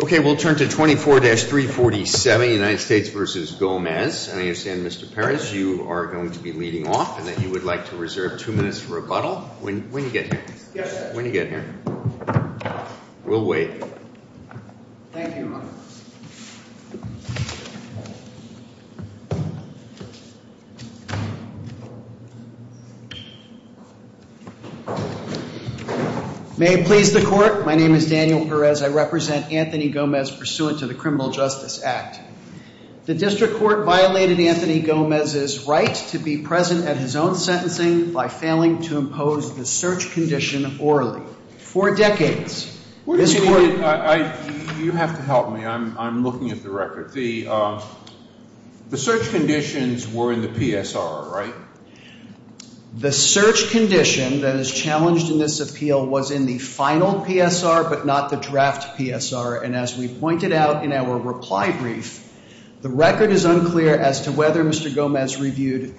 Okay, we'll turn to 24-347, United States v. Gomez. And I understand, Mr. Perez, you are going to be leading off and that you would like to reserve two minutes for rebuttal. When do you get here? Yes, sir. When do you get here? We'll wait. Thank you, Your Honor. May it please the Court, my name is Daniel Perez. I represent Anthony Gomez pursuant to the Criminal Justice Act. The District Court violated Anthony Gomez's right to be present at his own sentencing by failing to impose the search condition orally. For decades, this Court You have to help me. I'm looking at the record. The search conditions were in the PSR, right? The search condition that is challenged in this appeal was in the final PSR but not the draft PSR. And as we pointed out in our reply brief, the record is unclear as to whether Mr. Gomez reviewed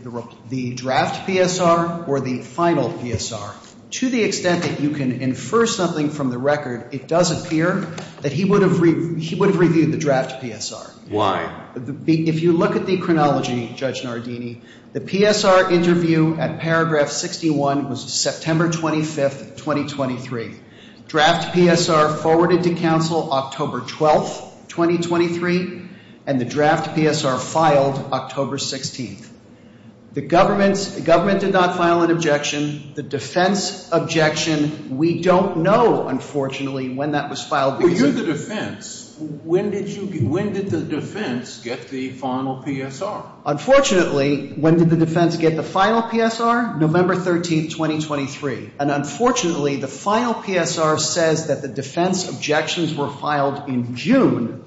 the draft PSR or the final PSR. To the extent that you can infer something from the record, it does appear that he would have reviewed the draft PSR. If you look at the chronology, Judge Nardini, the PSR interview at paragraph 61 was September 25th, 2023. Draft PSR forwarded to counsel October 12th, 2023, and the draft PSR filed October 16th. The government did not file an objection. The defense objection, we don't know, unfortunately, when that was filed. Were you the defense? When did the defense get the final PSR? Unfortunately, when did the defense get the final PSR? November 13th, 2023. And unfortunately, the final PSR says that the defense objections were filed in June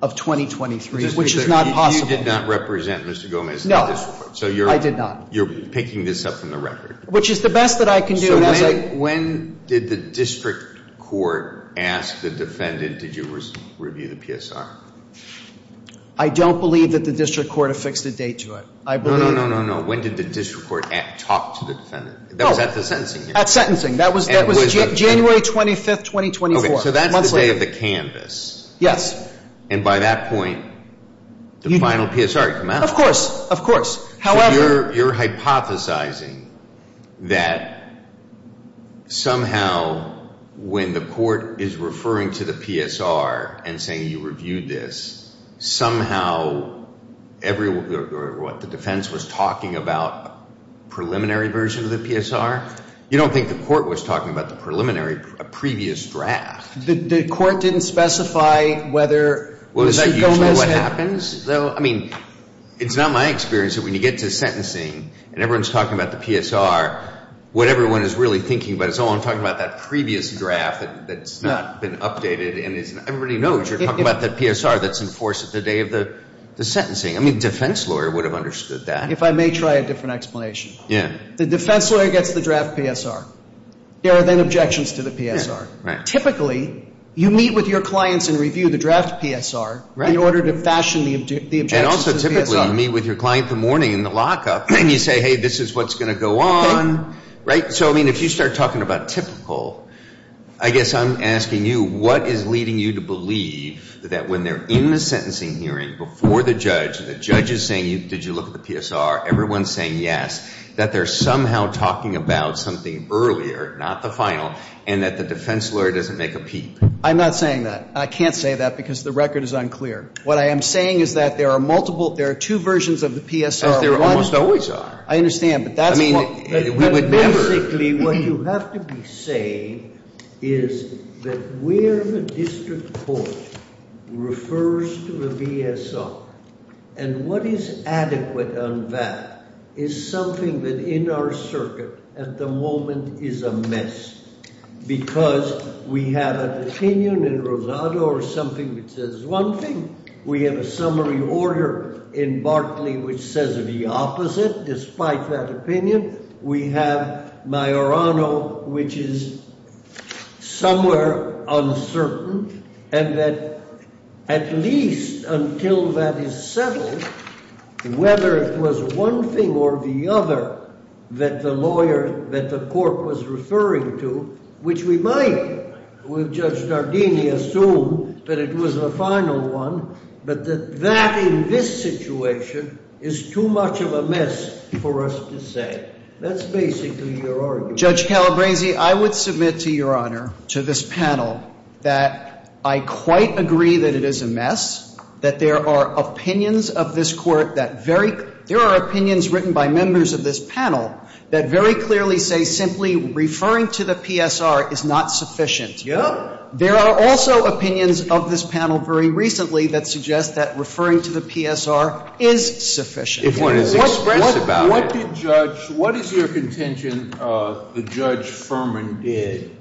of 2023, which is not possible. You did not represent Mr. Gomez at this point. I did not. So you're picking this up from the record. Which is the best that I can do. So when did the district court ask the defendant, did you review the PSR? I don't believe that the district court affixed a date to it. No, no, no. When did the district court talk to the defendant? That was at the sentencing hearing. At sentencing. That was January 25th, 2024. Okay. So that's the day of the canvas. Yes. And by that point, the final PSR had come out. Of course. Of course. However. You're hypothesizing that somehow when the court is referring to the PSR and saying you reviewed this, somehow the defense was talking about a preliminary version of the PSR? You don't think the court was talking about the preliminary previous draft? The court didn't specify whether Mr. Gomez had. Is that usually what happens? I mean, it's not my experience that when you get to sentencing and everyone is talking about the PSR, what everyone is really thinking about is, oh, I'm talking about that previous draft that's not been updated. Everybody knows you're talking about the PSR that's enforced at the day of the sentencing. I mean, the defense lawyer would have understood that. If I may try a different explanation. Yeah. The defense lawyer gets the draft PSR. There are then objections to the PSR. Right. Typically, you meet with your clients and review the draft PSR in order to fashion the objections to the PSR. And also typically you meet with your client in the morning in the lockup and you say, hey, this is what's going to go on. Right. So, I mean, if you start talking about typical, I guess I'm asking you, what is leading you to believe that when they're in the sentencing hearing before the judge and the judge is saying, did you look at the PSR, everyone is saying yes, that they're somehow talking about something earlier, not the final, and that the defense lawyer doesn't make a peep? I'm not saying that. I can't say that because the record is unclear. What I am saying is that there are multiple, there are two versions of the PSR. There almost always are. I understand, but that's what. Basically, what you have to be saying is that where the district court refers to the PSR and what is adequate on that is something that in our circuit at the moment is a mess, because we have an opinion in Rosado or something that says one thing. We have a summary order in Bartley which says the opposite. Despite that opinion, we have Majorano, which is somewhere uncertain, and that at least until that is settled, whether it was one thing or the other that the lawyer, that the court was referring to, which we might with Judge Dardini assume that it was the final one, but that that in this situation is too much of a mess for us to say. That's basically your argument. Judge Calabresi, I would submit to Your Honor, to this panel, that I quite agree that it is a mess, that there are opinions of this court that very, there are opinions written by members of this panel that very clearly say simply referring to the PSR is not sufficient. There are also opinions of this panel very recently that suggest that referring to the PSR is sufficient. If it is expressed about it. Sotomayor, what did Judge, what is your contention that Judge Furman did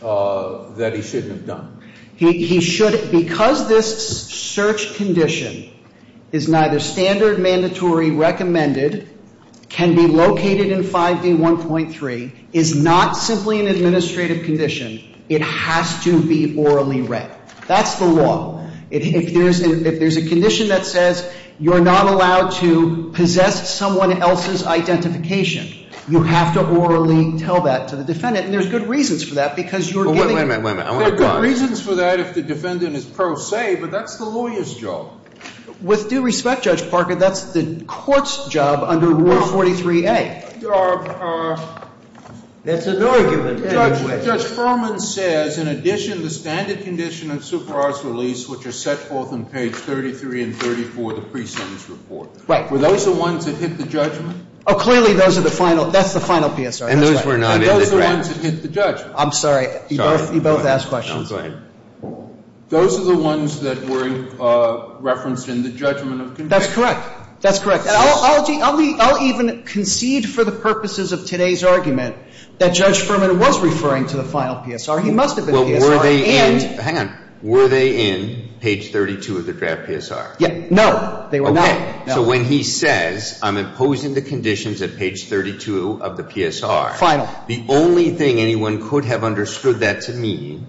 that he shouldn't have done? He should, because this search condition is neither standard, mandatory, recommended, can be located in 5D1.3, is not simply an administrative condition. It has to be orally read. That's the law. If there's a condition that says you're not allowed to possess someone else's identification, you have to orally tell that to the defendant. And there's good reasons for that, because you're giving. There are good reasons for that if the defendant is pro se, but that's the lawyer's job. With due respect, Judge Parker, that's the court's job under Rule 43A. That's an argument anyway. But Judge Furman says in addition to standard condition of superiors release, which are set forth in page 33 and 34 of the pre-sentence report. Right. Were those the ones that hit the judgment? Oh, clearly those are the final, that's the final PSR. And those were not in the draft. And those are the ones that hit the judgment. I'm sorry. You both asked questions. No, go ahead. Those are the ones that were referenced in the judgment of conviction. That's correct. That's correct. I'll even concede for the purposes of today's argument that Judge Furman was referring to the final PSR. He must have been PSR. Hang on. Were they in page 32 of the draft PSR? No. They were not. Okay. So when he says I'm imposing the conditions at page 32 of the PSR. Final. The only thing anyone could have understood that to mean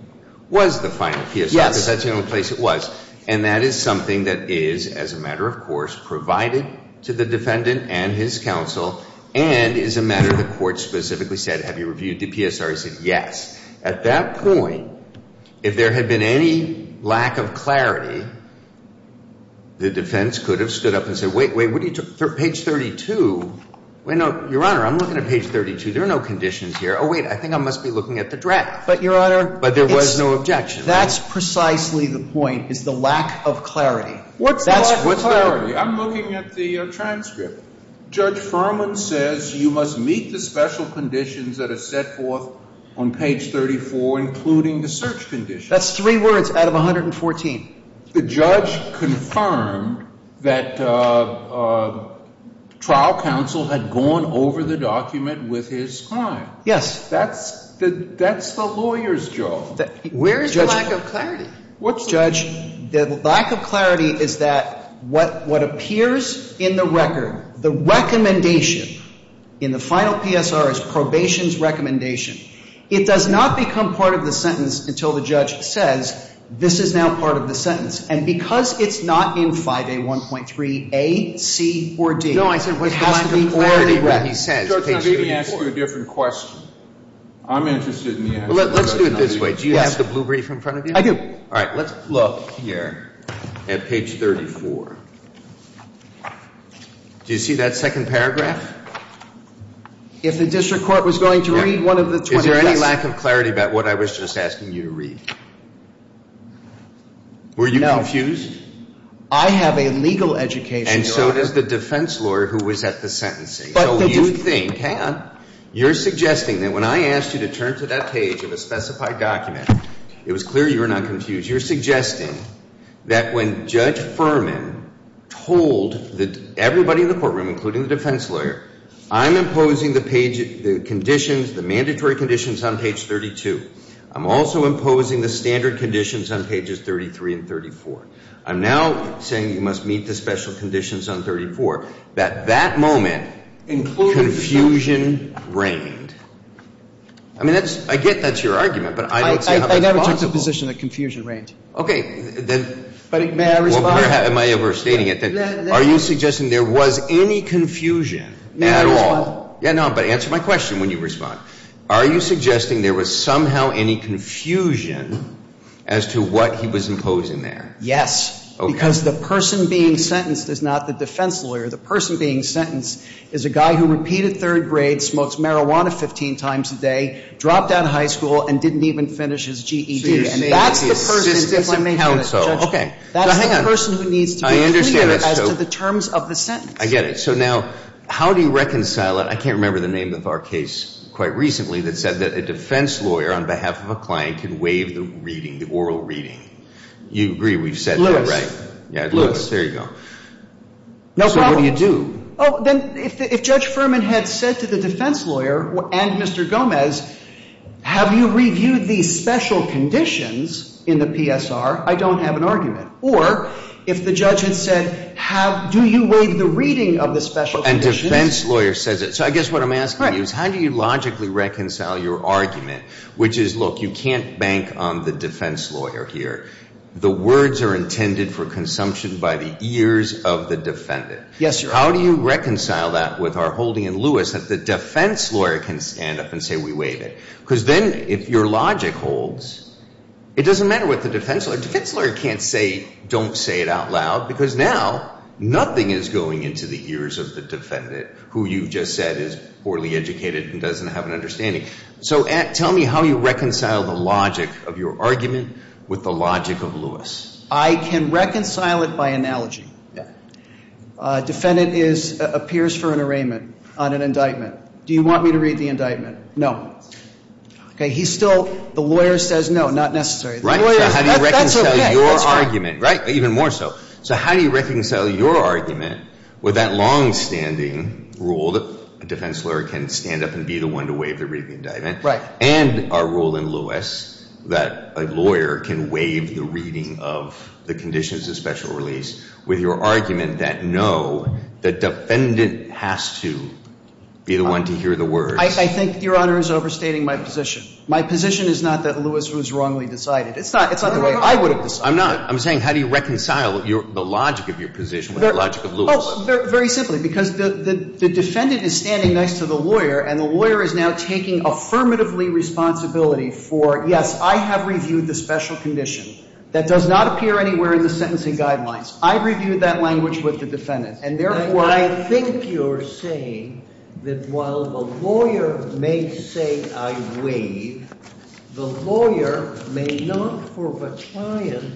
was the final PSR. Yes. Because that's the only place it was. And that is something that is, as a matter of course, provided to the defendant and his counsel, and is a matter of the court specifically said, have you reviewed the PSR? He said yes. At that point, if there had been any lack of clarity, the defense could have stood up and said, wait, wait, page 32. Your Honor, I'm looking at page 32. There are no conditions here. Oh, wait, I think I must be looking at the draft. But, Your Honor. But there was no objection. That's precisely the point, is the lack of clarity. What's the lack of clarity? I'm looking at the transcript. Judge Furman says you must meet the special conditions that are set forth on page 34, including the search condition. That's three words out of 114. The judge confirmed that trial counsel had gone over the document with his client. Yes. That's the lawyer's job. Where is the lack of clarity? Judge, the lack of clarity is that what appears in the record, the recommendation in the final PSR is probation's recommendation. It does not become part of the sentence until the judge says, this is now part of the And because it's not in 5A1.3a, c, or d, it has to be already read. No, I said what's the lack of clarity when he says page 34? Judge, I've even asked you a different question. I'm interested in the answer. Let's do it this way. Do you have the blue brief in front of you? I do. All right. Let's look here at page 34. Do you see that second paragraph? If the district court was going to read one of the 20 texts. Is there any lack of clarity about what I was just asking you to read? Were you confused? No. I have a legal education, Your Honor. And so does the defense lawyer who was at the sentencing. Hang on. You're suggesting that when I asked you to turn to that page of a specified document, it was clear you were not confused. You're suggesting that when Judge Furman told everybody in the courtroom, including the defense lawyer, I'm imposing the mandatory conditions on page 32. I'm also imposing the standard conditions on pages 33 and 34. I'm now saying you must meet the special conditions on 34. That that moment, confusion reigned. I mean, I get that's your argument, but I didn't say how that's possible. I never took the position that confusion reigned. Okay. May I respond? Am I overstating it? Are you suggesting there was any confusion at all? Yeah, no, but answer my question when you respond. Are you suggesting there was somehow any confusion as to what he was imposing there? Yes. Because the person being sentenced is not the defense lawyer. The person being sentenced is a guy who repeated third grade, smokes marijuana 15 times a day, dropped out of high school, and didn't even finish his GED. So you're saying it's the assistant counsel. That's the person who needs to be clear as to the terms of the sentence. I get it. So now how do you reconcile it? I can't remember the name of our case quite recently that said that a defense lawyer, on behalf of a client, can waive the reading, the oral reading. You agree we've said that? Lewis. Yeah, Lewis. There you go. No problem. So what do you do? Oh, then if Judge Furman had said to the defense lawyer and Mr. Gomez, have you reviewed the special conditions in the PSR, I don't have an argument. Or if the judge had said, do you waive the reading of the special conditions? And defense lawyer says it. So I guess what I'm asking you is how do you logically reconcile your argument, which is, look, you can't bank on the defense lawyer here. The words are intended for consumption by the ears of the defendant. Yes, Your Honor. How do you reconcile that with our holding in Lewis that the defense lawyer can stand up and say we waived it? Because then if your logic holds, it doesn't matter what the defense lawyer. Defense lawyer can't say, don't say it out loud, because now nothing is going into the ears of the defendant, who you just said is poorly educated and doesn't have an understanding. Okay. So tell me how you reconcile the logic of your argument with the logic of Lewis. I can reconcile it by analogy. Defendant appears for an arraignment on an indictment. Do you want me to read the indictment? No. Okay. He's still, the lawyer says no, not necessary. Right. That's okay. That's fine. Even more so. So how do you reconcile your argument with that longstanding rule that a defense lawyer can stand up and be the one to waive the reading of the indictment? Right. And our rule in Lewis that a lawyer can waive the reading of the conditions of special release with your argument that no, the defendant has to be the one to hear the words. I think, Your Honor, is overstating my position. My position is not that Lewis was wrongly decided. It's not the way I would have decided. I'm not. I'm saying how do you reconcile the logic of your position with the logic of Lewis? Well, very simply, because the defendant is standing next to the lawyer, and the lawyer is now taking affirmatively responsibility for, yes, I have reviewed the special condition. That does not appear anywhere in the sentencing guidelines. I reviewed that language with the defendant. And, therefore, I think you're saying that while the lawyer may say I waive, the lawyer may not, for the client,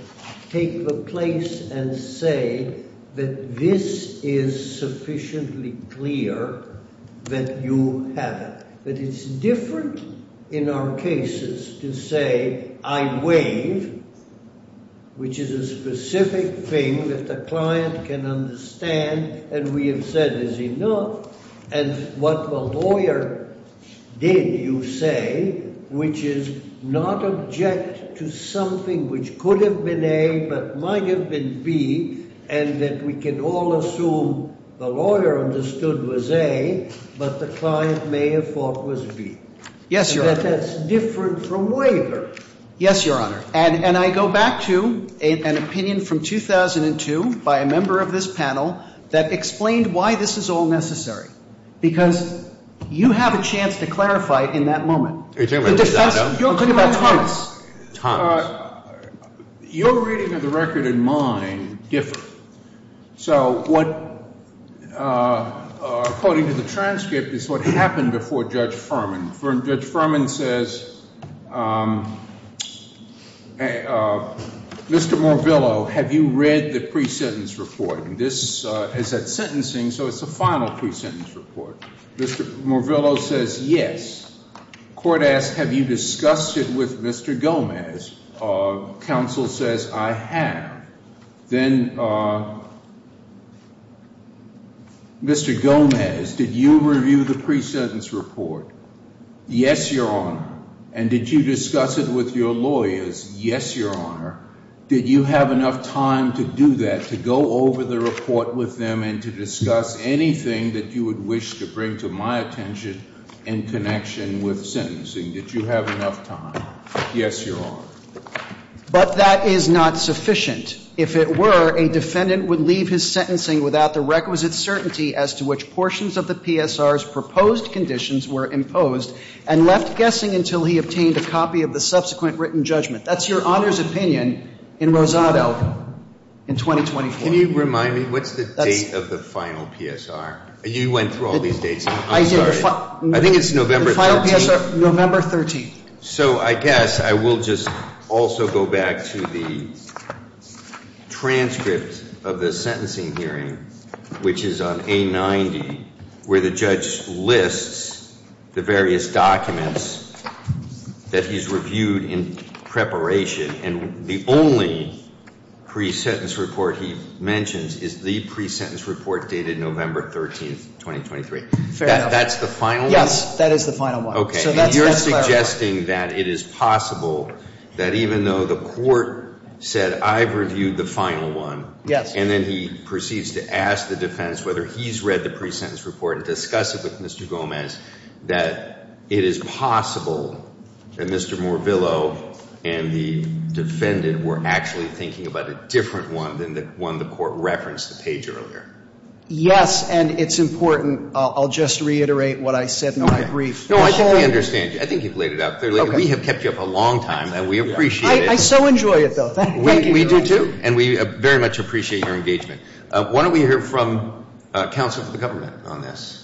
take the place and say that this is sufficiently clear that you have it. But it's different in our cases to say I waive, which is a specific thing that the client can understand and we have said is enough, and what the lawyer did, you say, which is not object to something which could have been A but might have been B, and that we can all assume the lawyer understood was A, but the client may have thought was B. Yes, Your Honor. And that's different from waiver. Yes, Your Honor. And I go back to an opinion from 2002 by a member of this panel that explained why this is all necessary, because you have a chance to clarify it in that moment. You're talking about Thomas. Thomas. Your reading of the record and mine differ. So what, according to the transcript, is what happened before Judge Furman. Judge Furman says, Mr. Morvillo, have you read the pre-sentence report? And this is at sentencing, so it's a final pre-sentence report. Mr. Morvillo says, yes. Court asks, have you discussed it with Mr. Gomez? Counsel says, I have. Then Mr. Gomez, did you review the pre-sentence report? Yes, Your Honor. And did you discuss it with your lawyers? Yes, Your Honor. Did you have enough time to do that, to go over the report with them and to discuss anything that you would wish to bring to my attention in connection with sentencing? Did you have enough time? Yes, Your Honor. But that is not sufficient. If it were, a defendant would leave his sentencing without the requisite certainty as to which portions of the PSR's proposed conditions were imposed and left guessing until he obtained a copy of the subsequent written judgment. That's Your Honor's opinion in Rosado in 2024. Can you remind me, what's the date of the final PSR? You went through all these dates. I'm sorry. I think it's November 13th. November 13th. So I guess I will just also go back to the transcript of the sentencing hearing, which is on A90, where the judge lists the various documents that he's reviewed in preparation, and the only pre-sentence report he mentions is the pre-sentence report dated November 13th, 2023. Fair enough. That's the final one? Yes, that is the final one. Okay. And you're suggesting that it is possible that even though the court said I've reviewed the final one, and then he proceeds to ask the defense whether he's read the pre-sentence report and discussed it with Mr. Gomez, that it is possible that Mr. Morvillo and the defendant were actually thinking about a different one than the one the court referenced the page earlier? Yes, and it's important. I'll just reiterate what I said in my brief. No, I think we understand you. I think you've laid it out clearly. We have kept you up a long time, and we appreciate it. I so enjoy it, though. Thank you. We do, too, and we very much appreciate your engagement. Why don't we hear from counsel for the government on this?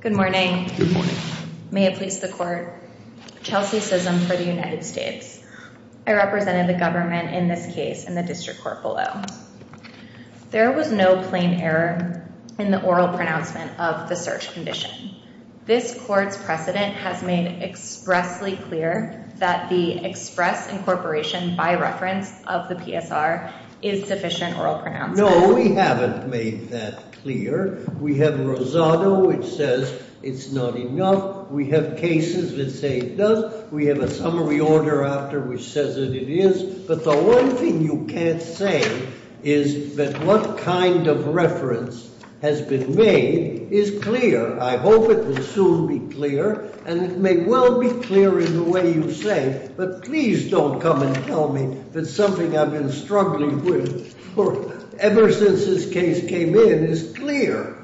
Good morning. Good morning. May it please the court. Chelsea Sism for the United States. I represented the government in this case in the District Court below. There was no plain error in the oral pronouncement of the search condition. This court's precedent has made expressly clear that the express incorporation by reference of the PSR is sufficient oral pronouncement. No, we haven't made that clear. We have Rosado, which says it's not enough. We have cases that say it does. We have a summary order after which says that it is. But the one thing you can't say is that what kind of reference has been made is clear. I hope it will soon be clear, and it may well be clear in the way you say, but please don't come and tell me that something I've been struggling with ever since this case came in is clear.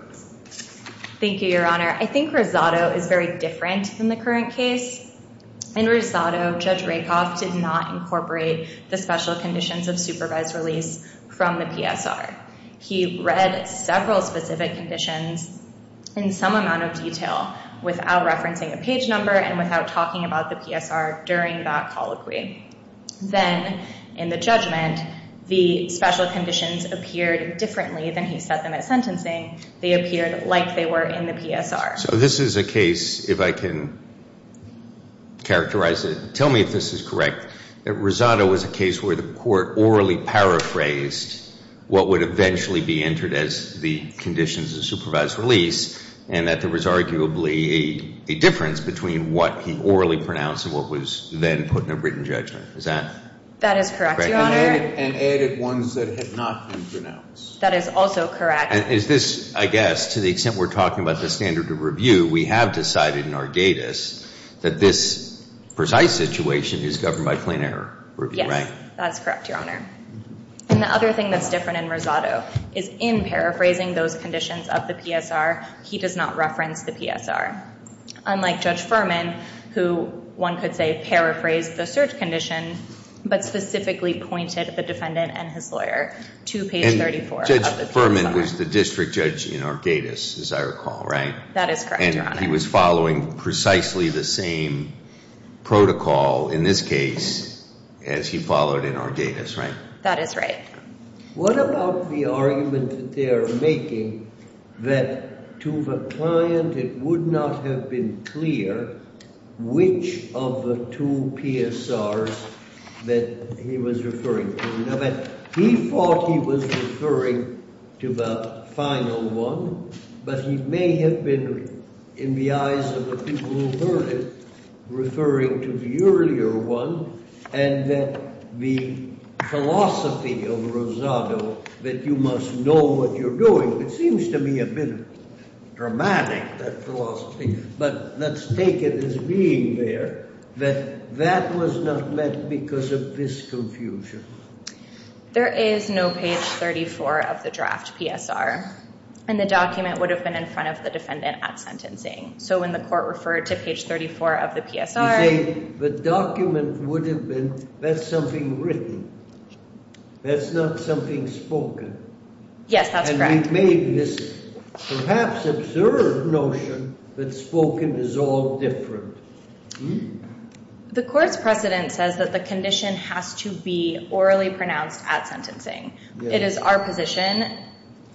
Thank you, Your Honor. I think Rosado is very different than the current case. In Rosado, Judge Rakoff did not incorporate the special conditions of supervised release from the PSR. He read several specific conditions in some amount of detail without referencing a page number and without talking about the PSR during that colloquy. Then, in the judgment, the special conditions appeared differently than he set them at sentencing. They appeared like they were in the PSR. So this is a case, if I can characterize it, tell me if this is correct, that Rosado was a case where the court orally paraphrased what would eventually be entered as the conditions of supervised release and that there was arguably a difference between what he orally pronounced and what was then put in a written judgment. Is that correct? That is correct, Your Honor. And added ones that had not been pronounced. That is also correct. Is this, I guess, to the extent we're talking about the standard of review, we have decided in our datas that this precise situation is governed by plain error review, right? Yes, that's correct, Your Honor. And the other thing that's different in Rosado is in paraphrasing those conditions of the PSR, he does not reference the PSR. Unlike Judge Furman, who one could say paraphrased the search condition, but specifically pointed the defendant and his lawyer to page 34 of the PSR. And Judge Furman was the district judge in our datas, as I recall, right? That is correct, Your Honor. And he was following precisely the same protocol in this case as he followed in our datas, right? That is right. What about the argument that they are making that to the client it would not have been clear which of the two PSRs that he was referring to? Now, he thought he was referring to the final one, but he may have been, in the eyes of the people who heard it, referring to the earlier one, and that the philosophy of Rosado that you must know what you're doing, it seems to me a bit dramatic, that philosophy, but let's take it as being there, that that was not met because of this confusion. There is no page 34 of the draft PSR, and the document would have been in front of the defendant at sentencing. So when the court referred to page 34 of the PSR... You say the document would have been, that's something written. That's not something spoken. Yes, that's correct. And we made this perhaps absurd notion that spoken is all different. The court's precedent says that the condition has to be orally pronounced at sentencing. It is our position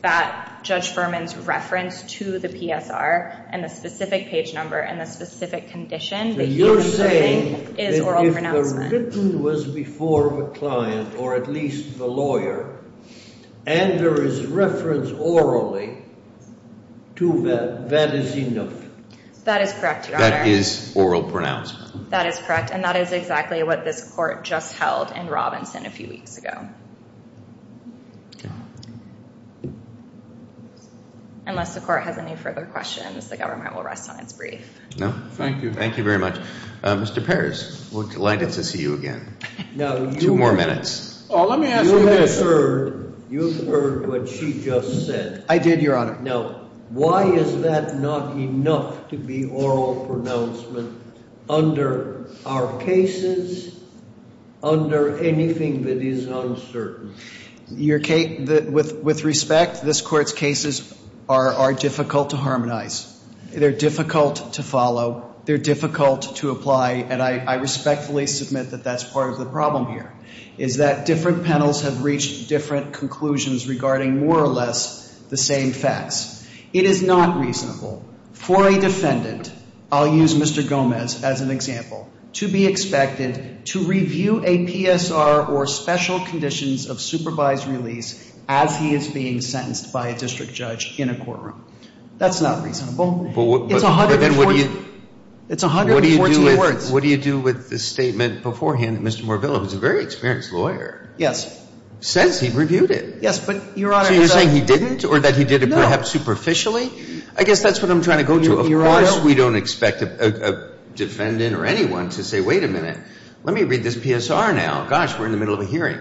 that Judge Furman's reference to the PSR and the specific page number and the specific condition that he is referring to is oral pronouncement. So you're saying that if the written was before the client, or at least the lawyer, and there is reference orally to that, that is enough. That is correct, Your Honor. That is oral pronouncement. That is correct, and that is exactly what this court just held in Robinson a few weeks ago. Yeah. Unless the court has any further questions, the government will rest on its brief. No. Thank you. Thank you very much. Mr. Pears, we're delighted to see you again. Two more minutes. Well, let me ask you this. You've heard what she just said. I did, Your Honor. Now, why is that not enough to be oral pronouncement under our cases, under anything that is uncertain? With respect, this Court's cases are difficult to harmonize. They're difficult to follow. They're difficult to apply, and I respectfully submit that that's part of the problem here, is that different panels have reached different conclusions regarding more or less the same facts. It is not reasonable for a defendant, I'll use Mr. Gomez as an example, to be expected to review a PSR or special conditions of supervised release as he is being sentenced by a district judge in a courtroom. That's not reasonable. It's 114 words. What do you do with the statement beforehand that Mr. Morvillo, who's a very experienced lawyer, says he reviewed it? Yes, but, Your Honor. So you're saying he didn't or that he did it perhaps superficially? I guess that's what I'm trying to go to. Of course we don't expect a defendant or anyone to say, wait a minute, let me read this PSR now. Gosh, we're in the middle of a hearing.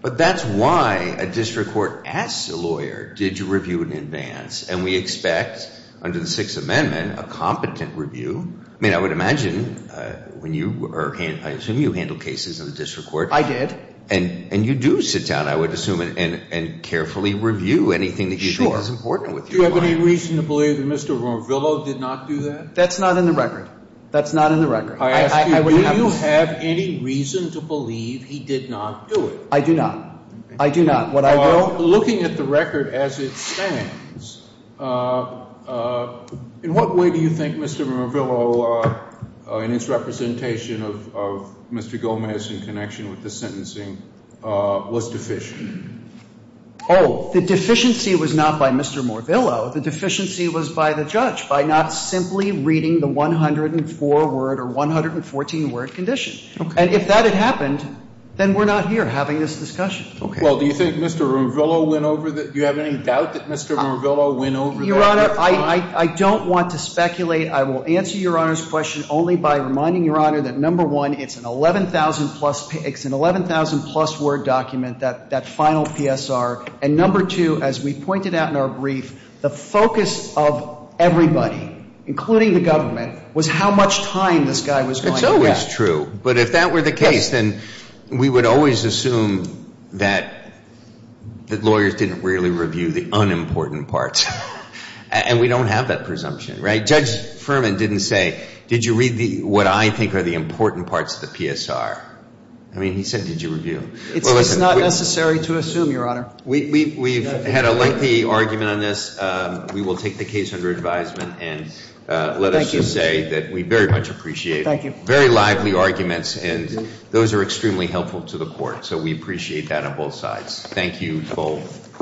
But that's why a district court asks a lawyer, did you review it in advance? And we expect, under the Sixth Amendment, a competent review. I mean, I would imagine when you or I assume you handled cases in the district court. I did. And you do sit down, I would assume, and carefully review anything that you think is important with your client. Do you have any reason to believe that Mr. Morvillo did not do that? That's not in the record. That's not in the record. I ask you, do you have any reason to believe he did not do it? I do not. I do not. Looking at the record as it stands, in what way do you think Mr. Morvillo, in his representation of Mr. Gomez in connection with the sentencing, was deficient? Oh, the deficiency was not by Mr. Morvillo. The deficiency was by the judge, by not simply reading the 104-word or 114-word condition. And if that had happened, then we're not here having this discussion. Well, do you think Mr. Morvillo went over that? Do you have any doubt that Mr. Morvillo went over that? Your Honor, I don't want to speculate. I will answer Your Honor's question only by reminding Your Honor that, number one, it's an 11,000-plus word document, that final PSR. And number two, as we pointed out in our brief, the focus of everybody, including the government, was how much time this guy was going to get. It's always true. But if that were the case, then we would always assume that lawyers didn't really review the unimportant parts. And we don't have that presumption, right? Judge Furman didn't say, did you read what I think are the important parts of the PSR? I mean, he said, did you review? It's not necessary to assume, Your Honor. We've had a lengthy argument on this. We will take the case under advisement and let us just say that we very much appreciate it. Thank you. Very lively arguments, and those are extremely helpful to the court. So we appreciate that on both sides. Thank you both.